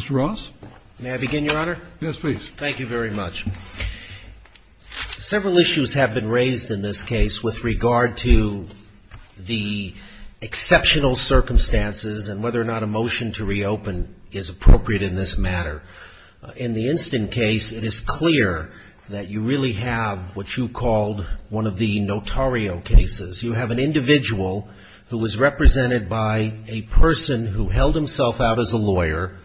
Mr. Ross. May I begin, Your Honor? Yes, please. Thank you very much. Several issues have been raised in this case with regard to the exceptional circumstances and whether or not a motion to reopen is appropriate in this matter. In the instant case, it is clear that you really have what you called one of the notario cases. You have an individual who was represented by a person who held himself out as a lawyer,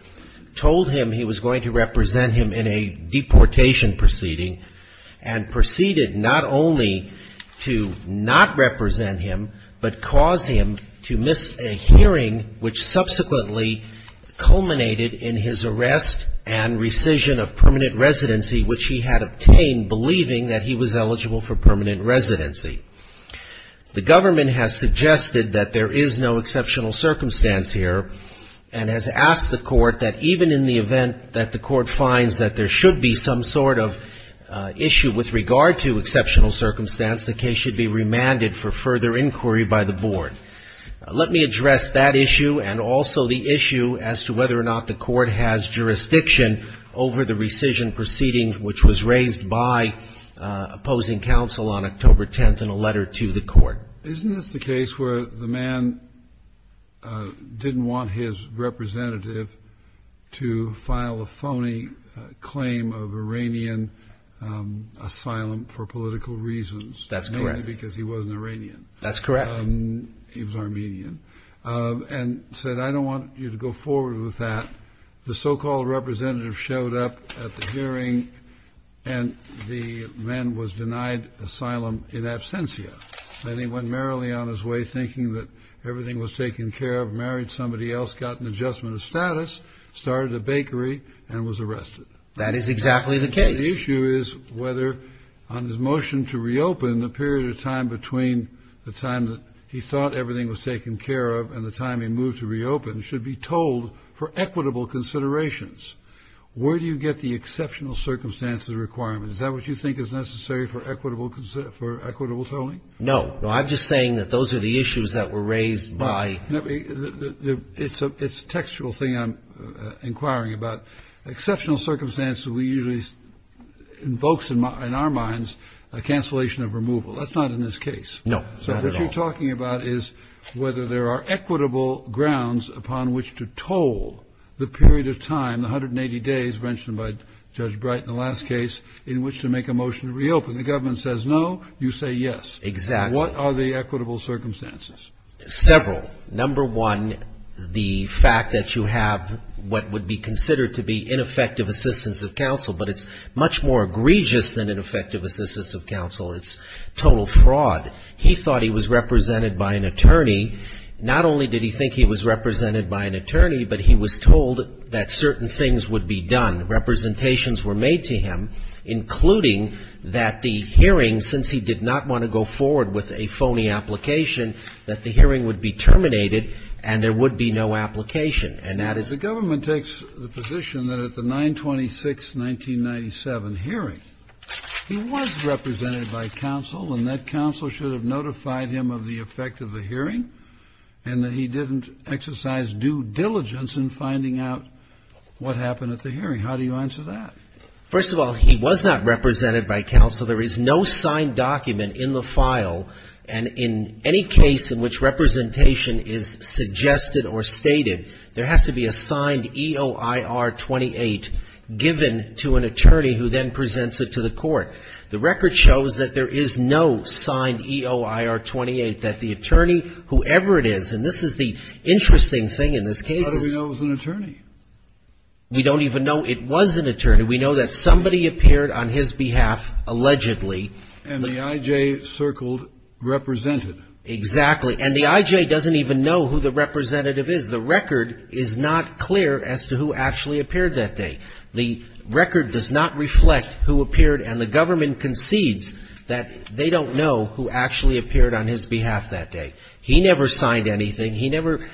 told him he was going to represent him in a deportation proceeding, and proceeded not only to not represent him, but cause him to miss a hearing which subsequently culminated in his arrest and rescission of permanent residency, which he had obtained believing that he was eligible for permanent residency. The government has suggested that there is no exceptional circumstance here and has asked the court that even in the event that the court finds that there should be some sort of issue with regard to exceptional circumstance, the case should be remanded for further inquiry by the board. Let me address that issue and also the issue as to whether or not the court has jurisdiction over the rescission proceeding which was raised by opposing counsel on October 10th in a letter to the court. Isn't this the case where the man didn't want his representative to file a phony claim of Iranian asylum for political reasons? That's correct. Mainly because he wasn't Iranian. That's correct. He was Armenian, and said, I don't want you to go forward with that. The so-called representative showed up at the hearing, and the man was denied asylum in absentia. Then he went merrily on his way, thinking that everything was taken care of, married somebody else, got an adjustment of status, started a bakery, and was arrested. That is exactly the case. The issue is whether on his motion to reopen, the period of time between the time that he thought everything was taken care of and the time he moved to reopen should be told for equitable considerations. Where do you get the exceptional circumstances requirement? Is that what you think is necessary for equitable tolling? No. No, I'm just saying that those are the issues that were raised by It's a textual thing I'm inquiring about. Exceptional circumstances usually invokes in our minds a cancellation of removal. That's not in this case. No. Not at all. What you're talking about is whether there are equitable grounds upon which to toll the period of time, the 180 days mentioned by Judge Bright in the last case, in which to make a motion to reopen. The government says no. You say yes. Exactly. What are the equitable circumstances? Several. Number one, the fact that you have what would be considered to be ineffective assistance of counsel, but it's much more egregious than ineffective assistance of counsel. It's total fraud. He thought he was represented by an attorney. Not only did he think he was represented by an attorney, but he was told that certain things would be done. Representations were made to him, including that the hearing, since he did not want to go forward with a phony application, that the hearing would be terminated and there would be no application. And that is the government takes the position that at the 926-1997 hearing, he was represented by counsel, and that counsel should have notified him of the effect of the hearing, and that he didn't exercise due diligence in finding out what happened at the hearing. How do you answer that? First of all, he was not represented by counsel. There is no signed document in the file, and in any case in which representation is suggested or stated, there has to be a signed EOIR-28 given to an attorney who then presents it to the court. The record shows that there is no signed EOIR-28, that the attorney, whoever it is, and this is the interesting thing in this case. How do we know it was an attorney? We don't even know it was an attorney. We know that somebody appeared on his behalf, allegedly. And the I.J. circled represented. Exactly. And the I.J. doesn't even know who the representative is. The record is not clear as to who actually appeared that day. The record does not reflect who appeared, and the government concedes that they don't know who actually appeared on his behalf that day. He never signed anything. He never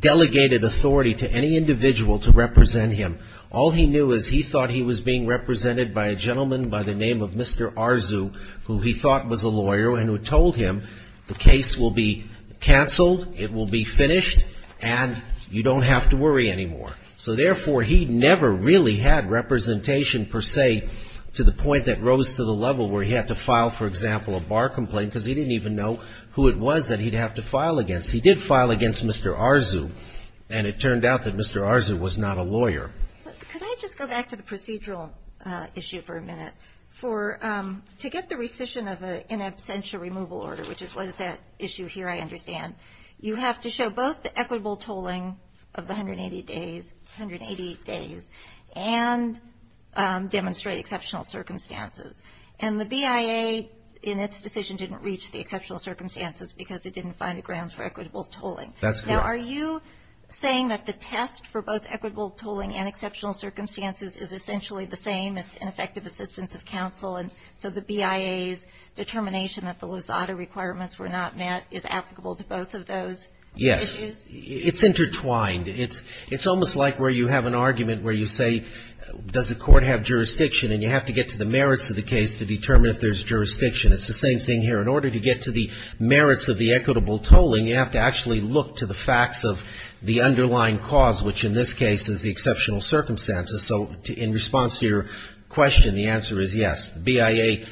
delegated authority to any individual to represent him. All he knew is he thought he was being represented by a gentleman by the name of Mr. Arzu, who he thought was a lawyer and who told him, the case will be canceled, it will be finished, and you don't have to worry anymore. So therefore, he never really had representation, per se, to the point that rose to the level where he had to file, for example, a bar complaint because he didn't even know who it was that he'd have to file against. He did file against Mr. Arzu, and it turned out that Mr. Arzu was not a lawyer. Could I just go back to the procedural issue for a minute? To get the rescission of an in absentia removal order, which is what is at issue here, I understand, you have to show both the equitable tolling of the 180 days and demonstrate exceptional circumstances. And the BIA, in its decision, didn't reach the exceptional circumstances because it didn't find the grounds for equitable tolling. That's correct. Now, are you saying that the test for both equitable tolling and exceptional circumstances is essentially the same, it's ineffective assistance of counsel, and so the BIA's determination that the Lusada requirements were not met is applicable to both of those issues? Yes. It's intertwined. It's almost like where you have an argument where you say, does the court have jurisdiction, and you have to get to the merits of the case to determine if there's jurisdiction. It's the same thing here. In order to get to the merits of the equitable tolling, you have to actually look to the facts of the underlying cause, which in this case is the exceptional circumstances. So in response to your question, the answer is yes. The BIA,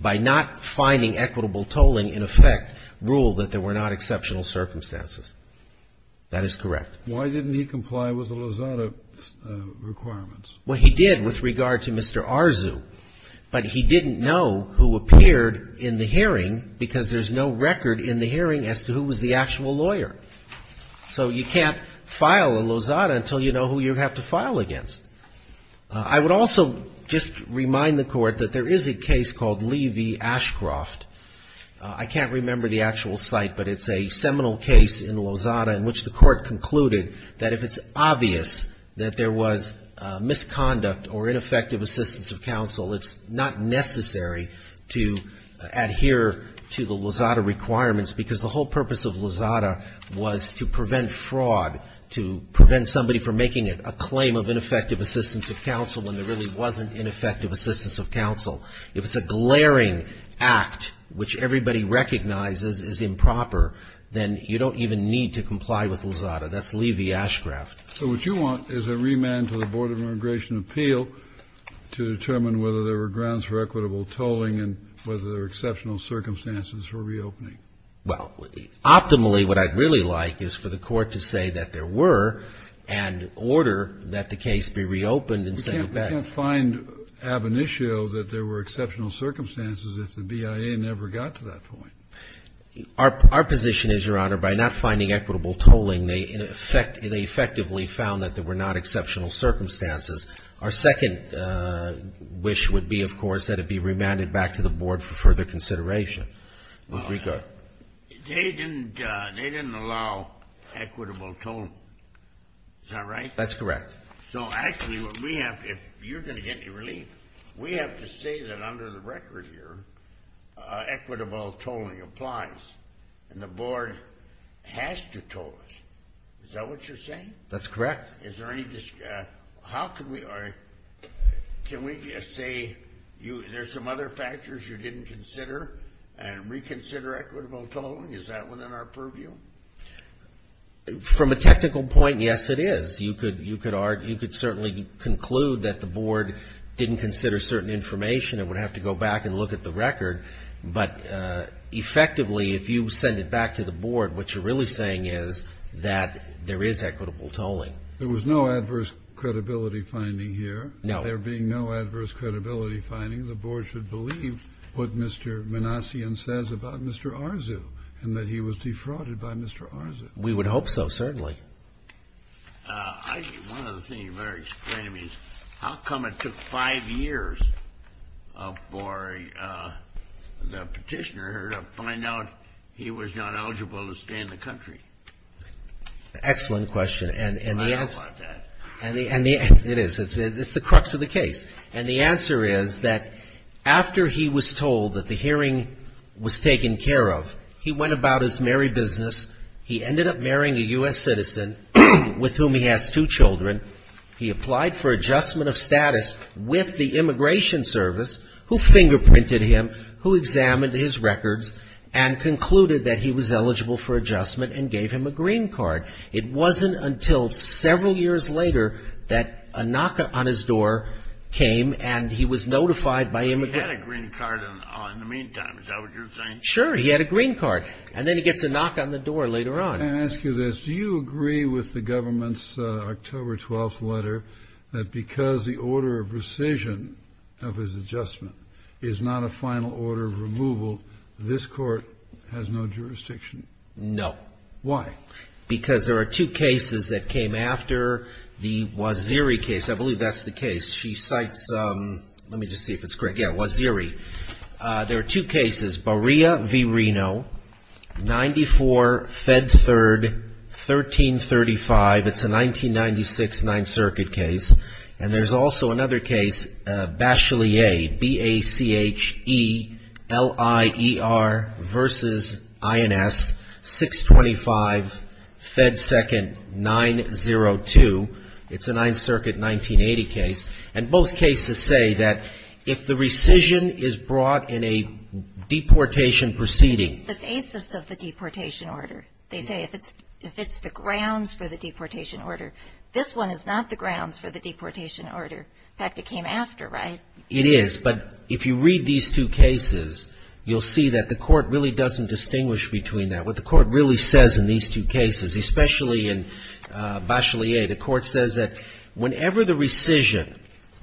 by not finding equitable tolling in effect, ruled that there were not exceptional circumstances. That is correct. Why didn't he comply with the Lusada requirements? Well, he did with regard to Mr. Arzu, but he didn't know who appeared in the hearing because there's no record in the hearing as to who was the actual lawyer. So you can't file a Lusada until you know who you have to file against. I would also just remind the Court that there is a case called Lee v. Ashcroft. I can't remember the actual site, but it's a seminal case in Lusada in which the Court concluded that if it's obvious that there was misconduct or ineffective assistance of counsel, it's not necessary to adhere to the Lusada requirements because the whole purpose of Lusada was to prevent fraud, to prevent somebody from making a claim of ineffective assistance of counsel when there really wasn't ineffective assistance of counsel. If it's a glaring act, which everybody recognizes is improper, then you don't even need to comply with Lusada. That's Lee v. Ashcroft. So what you want is a remand to the Board of Immigration Appeal to determine whether there were grounds for equitable tolling and whether there were exceptional circumstances for reopening. Well, optimally, what I'd really like is for the Court to say that there were and order that the case be reopened and send it back. We can't find ab initio that there were exceptional circumstances if the BIA never got to that point. Our position is, Your Honor, by not finding equitable tolling, they effectively found that there were not exceptional circumstances. Our second wish would be, of course, that it be remanded back to the Board for further consideration. They didn't allow equitable tolling. Is that right? That's correct. So actually, if you're going to get any relief, we have to say that under the record here, equitable tolling applies, and the Board has to toll us. Is that what you're saying? That's correct. Is there any discussion? Can we just say there's some other factors you didn't consider and reconsider equitable tolling? Is that within our purview? From a technical point, yes, it is. You could certainly conclude that the Board didn't consider certain information and would have to go back and look at the record, but effectively, if you send it back to the Board, what you're really saying is that there is equitable tolling. There was no adverse credibility finding here. No. There being no adverse credibility finding, the Board should believe what Mr. Manassian says about Mr. Arzu and that he was defrauded by Mr. Arzu. We would hope so, certainly. One of the things you better explain to me is how come it took five years for the petitioner to find out he was not eligible to stay in the country? Excellent question. I don't want that. It is. It's the crux of the case. And the answer is that after he was told that the hearing was taken care of, he went about his merry business. He ended up marrying a U.S. citizen with whom he has two children. He applied for adjustment of status with the Immigration Service, who fingerprinted him, who examined his records, and concluded that he was eligible for adjustment and gave him a green card. It wasn't until several years later that a knock on his door came and he was notified by Immigration. He had a green card in the meantime. Is that what you're saying? Sure. He had a green card. And then he gets a knock on the door later on. Can I ask you this? Do you agree with the government's October 12th letter that because the order of rescission of his adjustment is not a final order of removal, this court has no jurisdiction? No. Why? Because there are two cases that came after the Waziri case. I believe that's the case. She cites — let me just see if it's correct. Yeah, Waziri. There are two cases, Baria v. Reno, 94, Fed 3rd, 1335. It's a 1996 Ninth Circuit case. And there's also another case, Bachelier, B-A-C-H-E-L-I-E-R v. INS, 625, Fed 2nd, 902. It's a Ninth Circuit 1980 case. And both cases say that if the rescission is brought in a deportation proceeding — It's the basis of the deportation order. They say if it's the grounds for the deportation order. This one is not the grounds for the deportation order. In fact, it came after, right? It is. But if you read these two cases, you'll see that the court really doesn't distinguish between that. What the court really says in these two cases, especially in Bachelier, the court says that whenever the rescission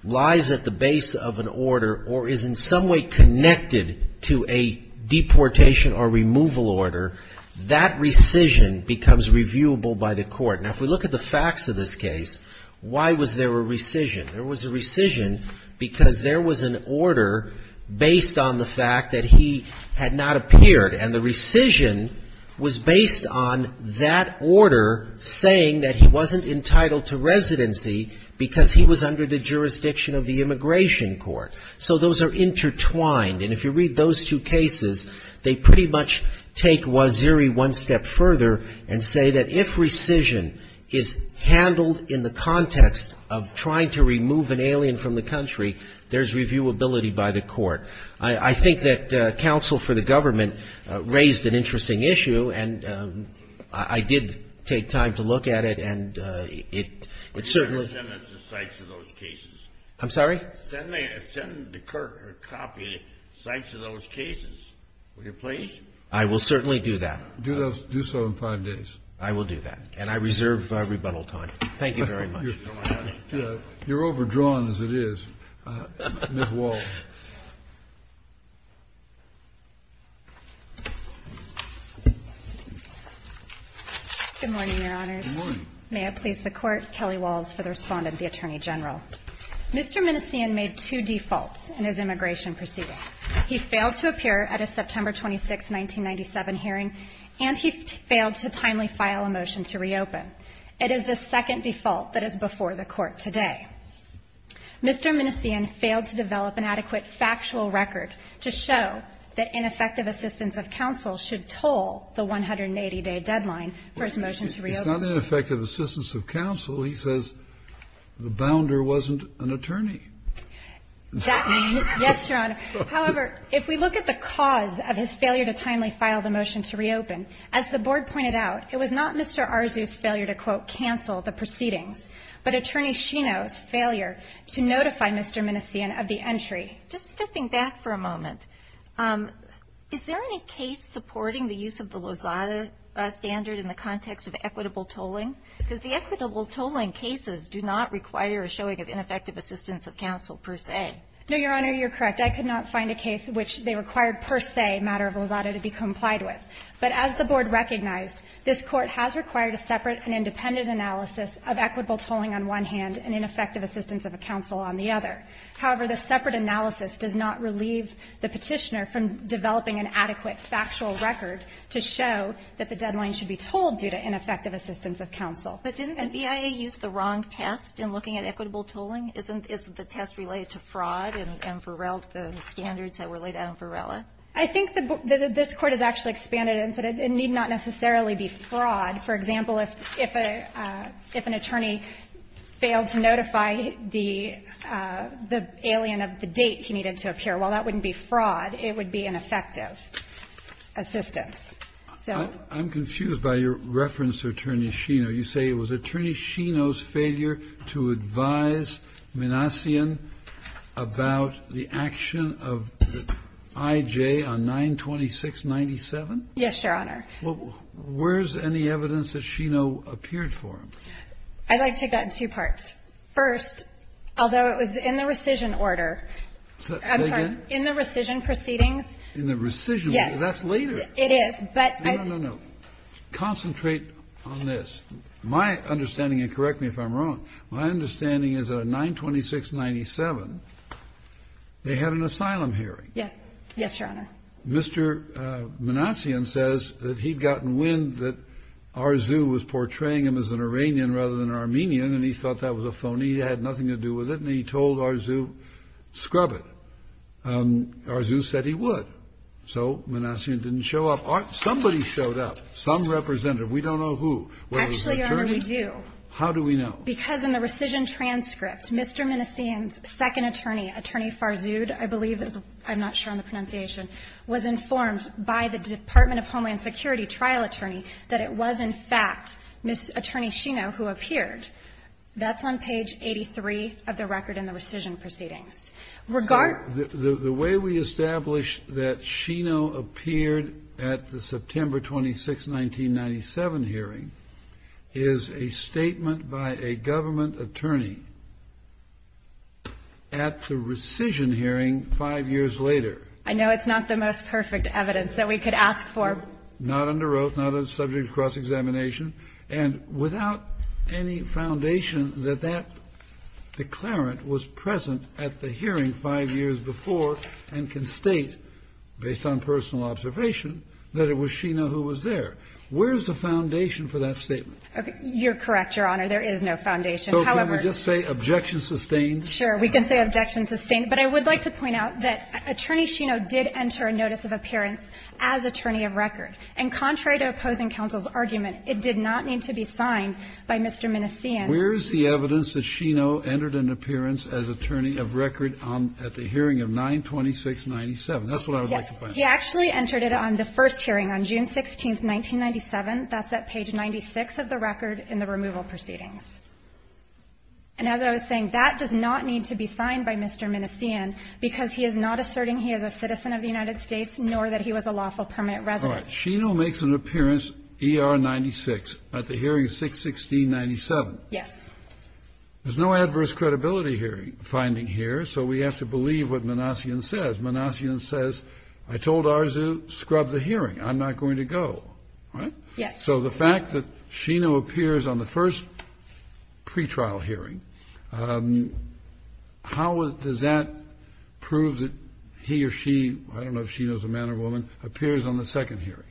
lies at the base of an order or is in some way connected to a deportation or removal order, that rescission becomes reviewable by the court. Now, if we look at the facts of this case, why was there a rescission? There was a rescission because there was an order based on the fact that he had not appeared. And the rescission was based on that order saying that he wasn't entitled to residency because he was under the jurisdiction of the immigration court. So those are intertwined. And if you read those two cases, they pretty much take Waziri one step further and say that if rescission is handled in the context of trying to remove an alien from the country, there's reviewability by the court. I think that counsel for the government raised an interesting issue, and I did take time to look at it, and it certainly was. Kennedy. I'm sorry? Kennedy. I will certainly do that. I will do that. And I reserve rebuttal time. Thank you very much. You're overdrawn as it is. Ms. Walsh. Good morning, Your Honors. Good morning. May it please the Court, Kelly Walsh for the respondent, the Attorney General. Mr. Minnesian made two defaults in his immigration proceedings. He failed to appear at a September 26, 1997 hearing, and he failed to timely file a motion to reopen. It is the second default that is before the Court today. Mr. Minnesian failed to develop an adequate factual record to show that ineffective assistance of counsel should toll the 180-day deadline for his motion to reopen. It's not ineffective assistance of counsel. He says the bounder wasn't an attorney. That means yes, Your Honor. However, if we look at the cause of his failure to timely file the motion to reopen, as the Board pointed out, it was not Mr. Arzu's failure to, quote, cancel the proceedings, but Attorney Scheno's failure to notify Mr. Minnesian of the entry. Just stepping back for a moment, is there any case supporting the use of the Lozada standard in the context of equitable tolling? Because the equitable tolling cases do not require a showing of ineffective assistance of counsel, per se. No, Your Honor. Your Honor, you're correct. I could not find a case in which they required per se a matter of Lozada to be complied with. But as the Board recognized, this Court has required a separate and independent analysis of equitable tolling on one hand and ineffective assistance of counsel on the other. However, the separate analysis does not relieve the Petitioner from developing an adequate factual record to show that the deadline should be tolled due to ineffective assistance of counsel. But didn't the BIA use the wrong test in looking at equitable tolling? Isn't the test related to fraud in Varela? The standards that were laid out in Varela? I think that this Court has actually expanded it and said it need not necessarily be fraud. For example, if an attorney failed to notify the alien of the date he needed to appear, well, that wouldn't be fraud. It would be ineffective assistance. So. I'm confused by your reference to Attorney Scheno. You say it was Attorney Scheno's failure to advise Minassian about the action of I.J. on 92697? Yes, Your Honor. Well, where's any evidence that Scheno appeared for him? I'd like to take that in two parts. First, although it was in the rescission order. Say again? I'm sorry. In the rescission proceedings. In the rescission. Yes. That's later. It is, but I. No, no, no. Concentrate on this. My understanding, and correct me if I'm wrong, my understanding is that on 92697, they had an asylum hearing. Yes, Your Honor. Mr. Minassian says that he'd gotten wind that Arzu was portraying him as an Iranian rather than an Armenian, and he thought that was a phony. He had nothing to do with it, and he told Arzu, scrub it. Arzu said he would. So Minassian didn't show up. Somebody showed up. Some representative. We don't know who. Actually, Your Honor, we do. How do we know? Because in the rescission transcript, Mr. Minassian's second attorney, Attorney Farzud, I believe, I'm not sure on the pronunciation, was informed by the Department of Homeland Security trial attorney that it was in fact Attorney Scheno who appeared. That's on page 83 of the record in the rescission proceedings. So the way we establish that Scheno appeared at the September 26, 1997 hearing is a statement by a government attorney at the rescission hearing five years later. I know it's not the most perfect evidence that we could ask for. Not under oath. Not a subject of cross-examination. And without any foundation that that declarant was present at the hearing five years before and can state, based on personal observation, that it was Scheno who was there. Where is the foundation for that statement? You're correct, Your Honor. There is no foundation. However So can we just say objection sustained? Sure. We can say objection sustained. But I would like to point out that Attorney Scheno did enter a notice of appearance as attorney of record. And contrary to opposing counsel's argument, it did not need to be signed by Mr. Minnesian. Where is the evidence that Scheno entered an appearance as attorney of record on the hearing of 92697? That's what I would like to find out. He actually entered it on the first hearing on June 16, 1997. That's at page 96 of the record in the removal proceedings. And as I was saying, that does not need to be signed by Mr. Minnesian, because he is not asserting he is a citizen of the United States, nor that he was a lawful permanent resident. All right. Scheno makes an appearance, ER 96, at the hearing 61697. Yes. There's no adverse credibility finding here, so we have to believe what Minnesian says. Minnesian says, I told Arzu, scrub the hearing. I'm not going to go. Right? Yes. So the fact that Scheno appears on the first pretrial hearing, how does that prove that he or she, I don't know if she knows a man or woman, appears on the second hearing?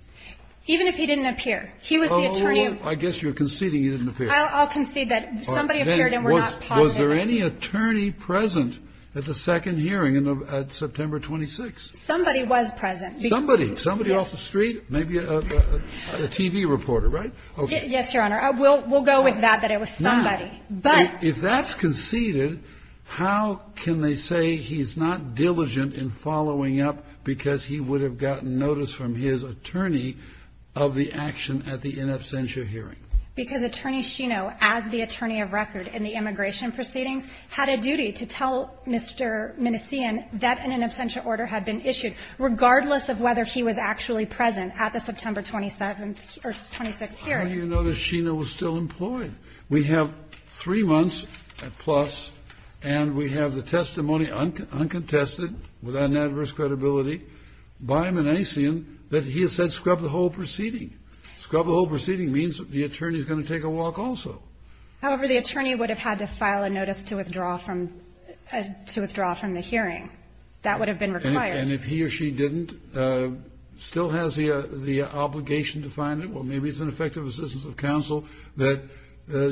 Even if he didn't appear. He was the attorney. I guess you're conceding he didn't appear. I'll concede that somebody appeared and we're not positive. Was there any attorney present at the second hearing at September 26? Somebody was present. Somebody. Somebody off the street? Maybe a TV reporter, right? Yes, Your Honor. We'll go with that, that it was somebody. If that's conceded, how can they say he's not diligent in following up because he would have gotten notice from his attorney of the action at the in absentia hearing? Because Attorney Scheno, as the attorney of record in the immigration proceedings, had a duty to tell Mr. Minnesian that an in absentia order had been issued, regardless of whether he was actually present at the September 27th or 26th hearing. How do you know that Scheno was still employed? We have three months plus, and we have the testimony uncontested, without an adverse credibility, by Minnesian that he has said scrub the whole proceeding. Scrub the whole proceeding means the attorney is going to take a walk also. However, the attorney would have had to file a notice to withdraw from the hearing. That would have been required. And if he or she didn't, still has the obligation to find it. Well, maybe it's an effective assistance of counsel that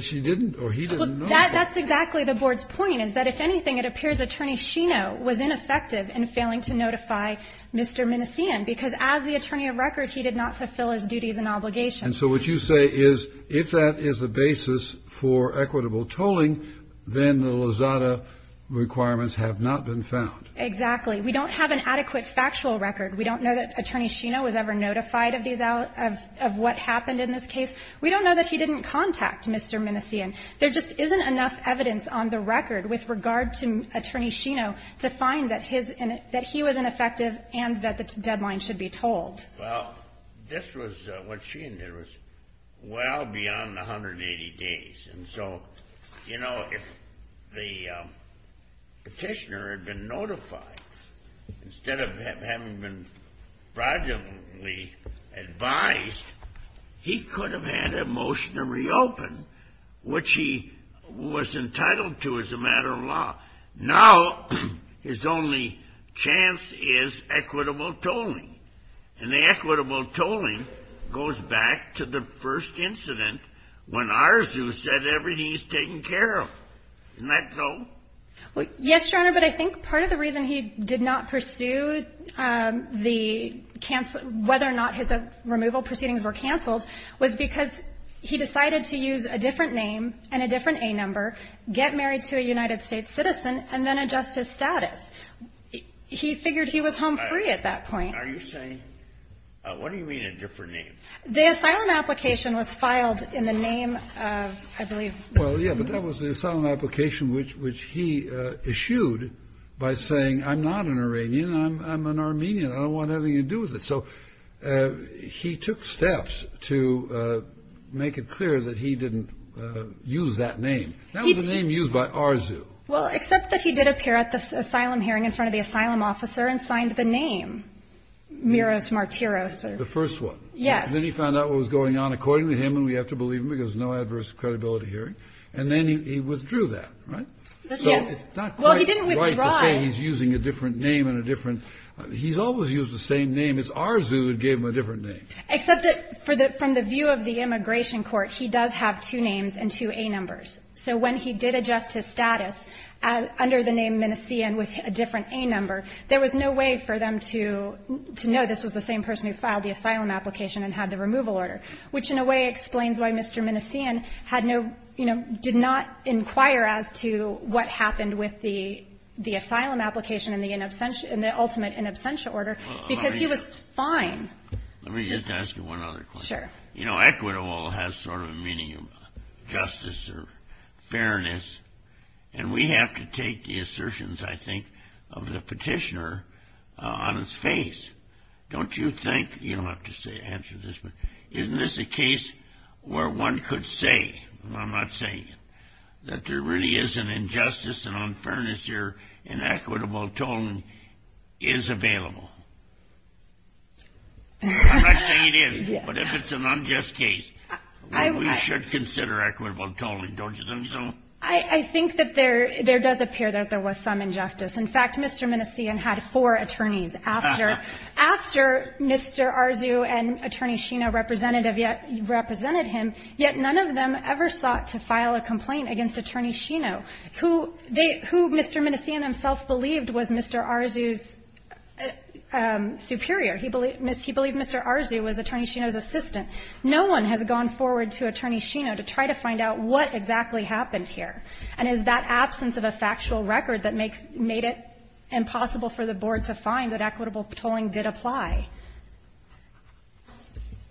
she didn't or he didn't know. Well, that's exactly the board's point, is that if anything, it appears Attorney Scheno was ineffective in failing to notify Mr. Minnesian, because as the attorney of record, he did not fulfill his duties and obligations. And so what you say is if that is the basis for equitable tolling, then the Lozada requirements have not been found. Exactly. We don't have an adequate factual record. We don't know that Attorney Scheno was ever notified of what happened in this case. We don't know that he didn't contact Mr. Minnesian. There just isn't enough evidence on the record with regard to Attorney Scheno to find that he was ineffective and that the deadline should be tolled. Well, this was what Sheehan did was well beyond the 180 days. And so, you know, if the petitioner had been notified instead of having been fraudulently advised, he could have had a motion to reopen, which he was entitled to as a matter of law. Now his only chance is equitable tolling. And the equitable tolling goes back to the first incident when Arzu said everything is taken care of. Isn't that so? Yes, Your Honor. But I think part of the reason he did not pursue the whether or not his removal proceedings were canceled was because he decided to use a different name and a different A number, get married to a United States citizen, and then adjust his status. He figured he was home free at that point. Are you saying, what do you mean a different name? The asylum application was filed in the name of, I believe. Well, yeah, but that was the asylum application which he issued by saying, I'm not an Iranian, I'm an Armenian, I don't want anything to do with it. So he took steps to make it clear that he didn't use that name. That was the name used by Arzu. Well, except that he did appear at the asylum hearing in front of the asylum officer and signed the name, Miros Martiros. The first one. Yes. Then he found out what was going on according to him, and we have to believe him, because no adverse credibility hearing. And then he withdrew that, right? Yes. Well, he didn't withdraw. So it's not quite right to say he's using a different name and a different. He's always used the same name. It's Arzu who gave him a different name. Except that from the view of the immigration court, he does have two names and two A numbers. So when he did adjust his status under the name Minnesian with a different A number, there was no way for them to know this was the same person who filed the asylum application and had the removal order, which in a way explains why Mr. Minnesian had no, you know, did not inquire as to what happened with the asylum application in the ultimate in absentia order, because he was fine. Let me just ask you one other question. Sure. You know, equitable has sort of a meaning of justice or fairness, and we have to take the assertions, I think, of the petitioner on its face. Don't you think, you don't have to answer this, but isn't this a case where one could say, and I'm not saying it, that there really is an injustice and unfairness here, and equitable tolling is available? I'm not saying it isn't. But if it's an unjust case, we should consider equitable tolling, don't you think so? I think that there does appear that there was some injustice. In fact, Mr. Minnesian had four attorneys after Mr. Arzu and Attorney Scheno represented him, yet none of them ever sought to file a complaint against Attorney Scheno, who Mr. Minnesian himself believed was Mr. Arzu's superior. He believed Mr. Arzu was Attorney Scheno's assistant. No one has gone forward to Attorney Scheno to try to find out what exactly happened here. And it is that absence of a factual record that made it impossible for the Board to find that equitable tolling did apply.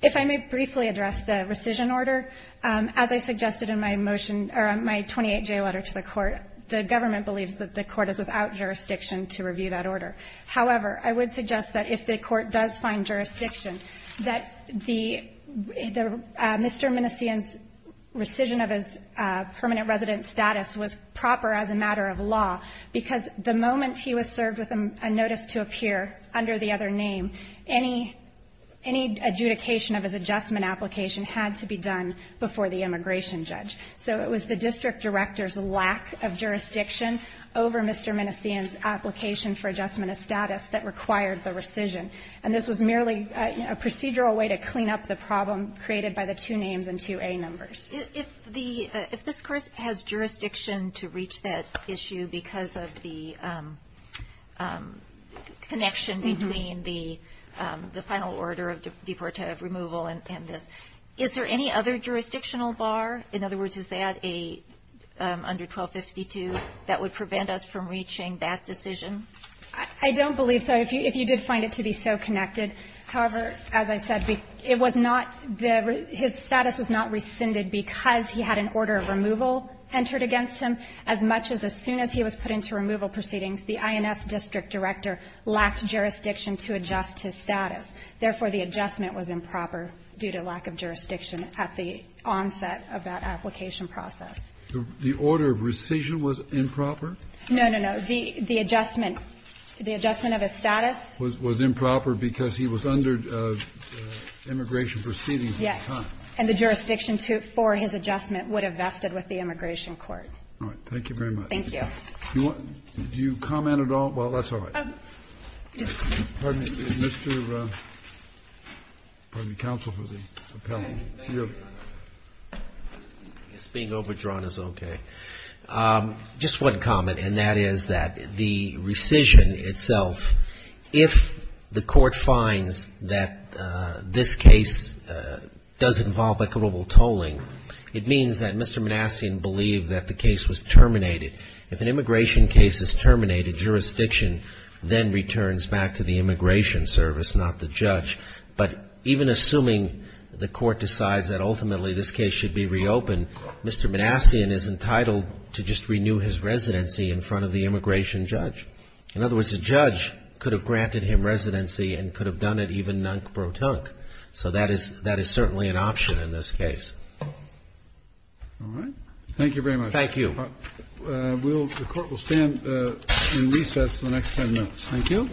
If I may briefly address the rescission order, as I suggested in my motion, or my 28J letter to the Court, the government believes that the Court is without jurisdiction to review that order. However, I would suggest that if the Court does find jurisdiction, that the Mr. Minnesian's rescission of his permanent resident status was proper as a matter of law, because the moment he was served with a notice to appear under the other name, any adjudication of his adjustment application had to be done before the immigration judge. So it was the district director's lack of jurisdiction over Mr. Minnesian's application for adjustment of status that required the rescission. And this was merely a procedural way to clean up the problem created by the two names and two A numbers. Kagan. If the – if this Court has jurisdiction to reach that issue because of the connection between the final order of deportative removal and this, is there any other jurisdictional bar? In other words, is that a under 1252 that would prevent us from reaching that decision? I don't believe so. If you did find it to be so connected. However, as I said, it was not the – his status was not rescinded because he had an order of removal entered against him, as much as as soon as he was put into removal Therefore, the adjustment was improper due to lack of jurisdiction at the onset of that application process. The order of rescission was improper? No, no, no. The adjustment – the adjustment of his status was improper because he was under immigration proceedings at the time. Yes. And the jurisdiction to – for his adjustment would have vested with the immigration court. All right. Thank you very much. Thank you. Do you want – do you comment at all? Well, that's all right. Pardon me. Mr. – pardon me, counsel, for the appellant. It's being overdrawn is okay. Just one comment, and that is that the rescission itself, if the court finds that this case does involve equitable tolling, it means that Mr. Manassian believed that the case was terminated. If an immigration case is terminated, jurisdiction then returns back to the immigration service, not the judge. But even assuming the court decides that ultimately this case should be reopened, Mr. Manassian is entitled to just renew his residency in front of the immigration judge. In other words, the judge could have granted him residency and could have done it even nunk-bro-tunk. So that is – that is certainly an option in this case. All right. Thank you very much. Thank you. We'll – the Court will stand in recess for the next 10 minutes. Thank you.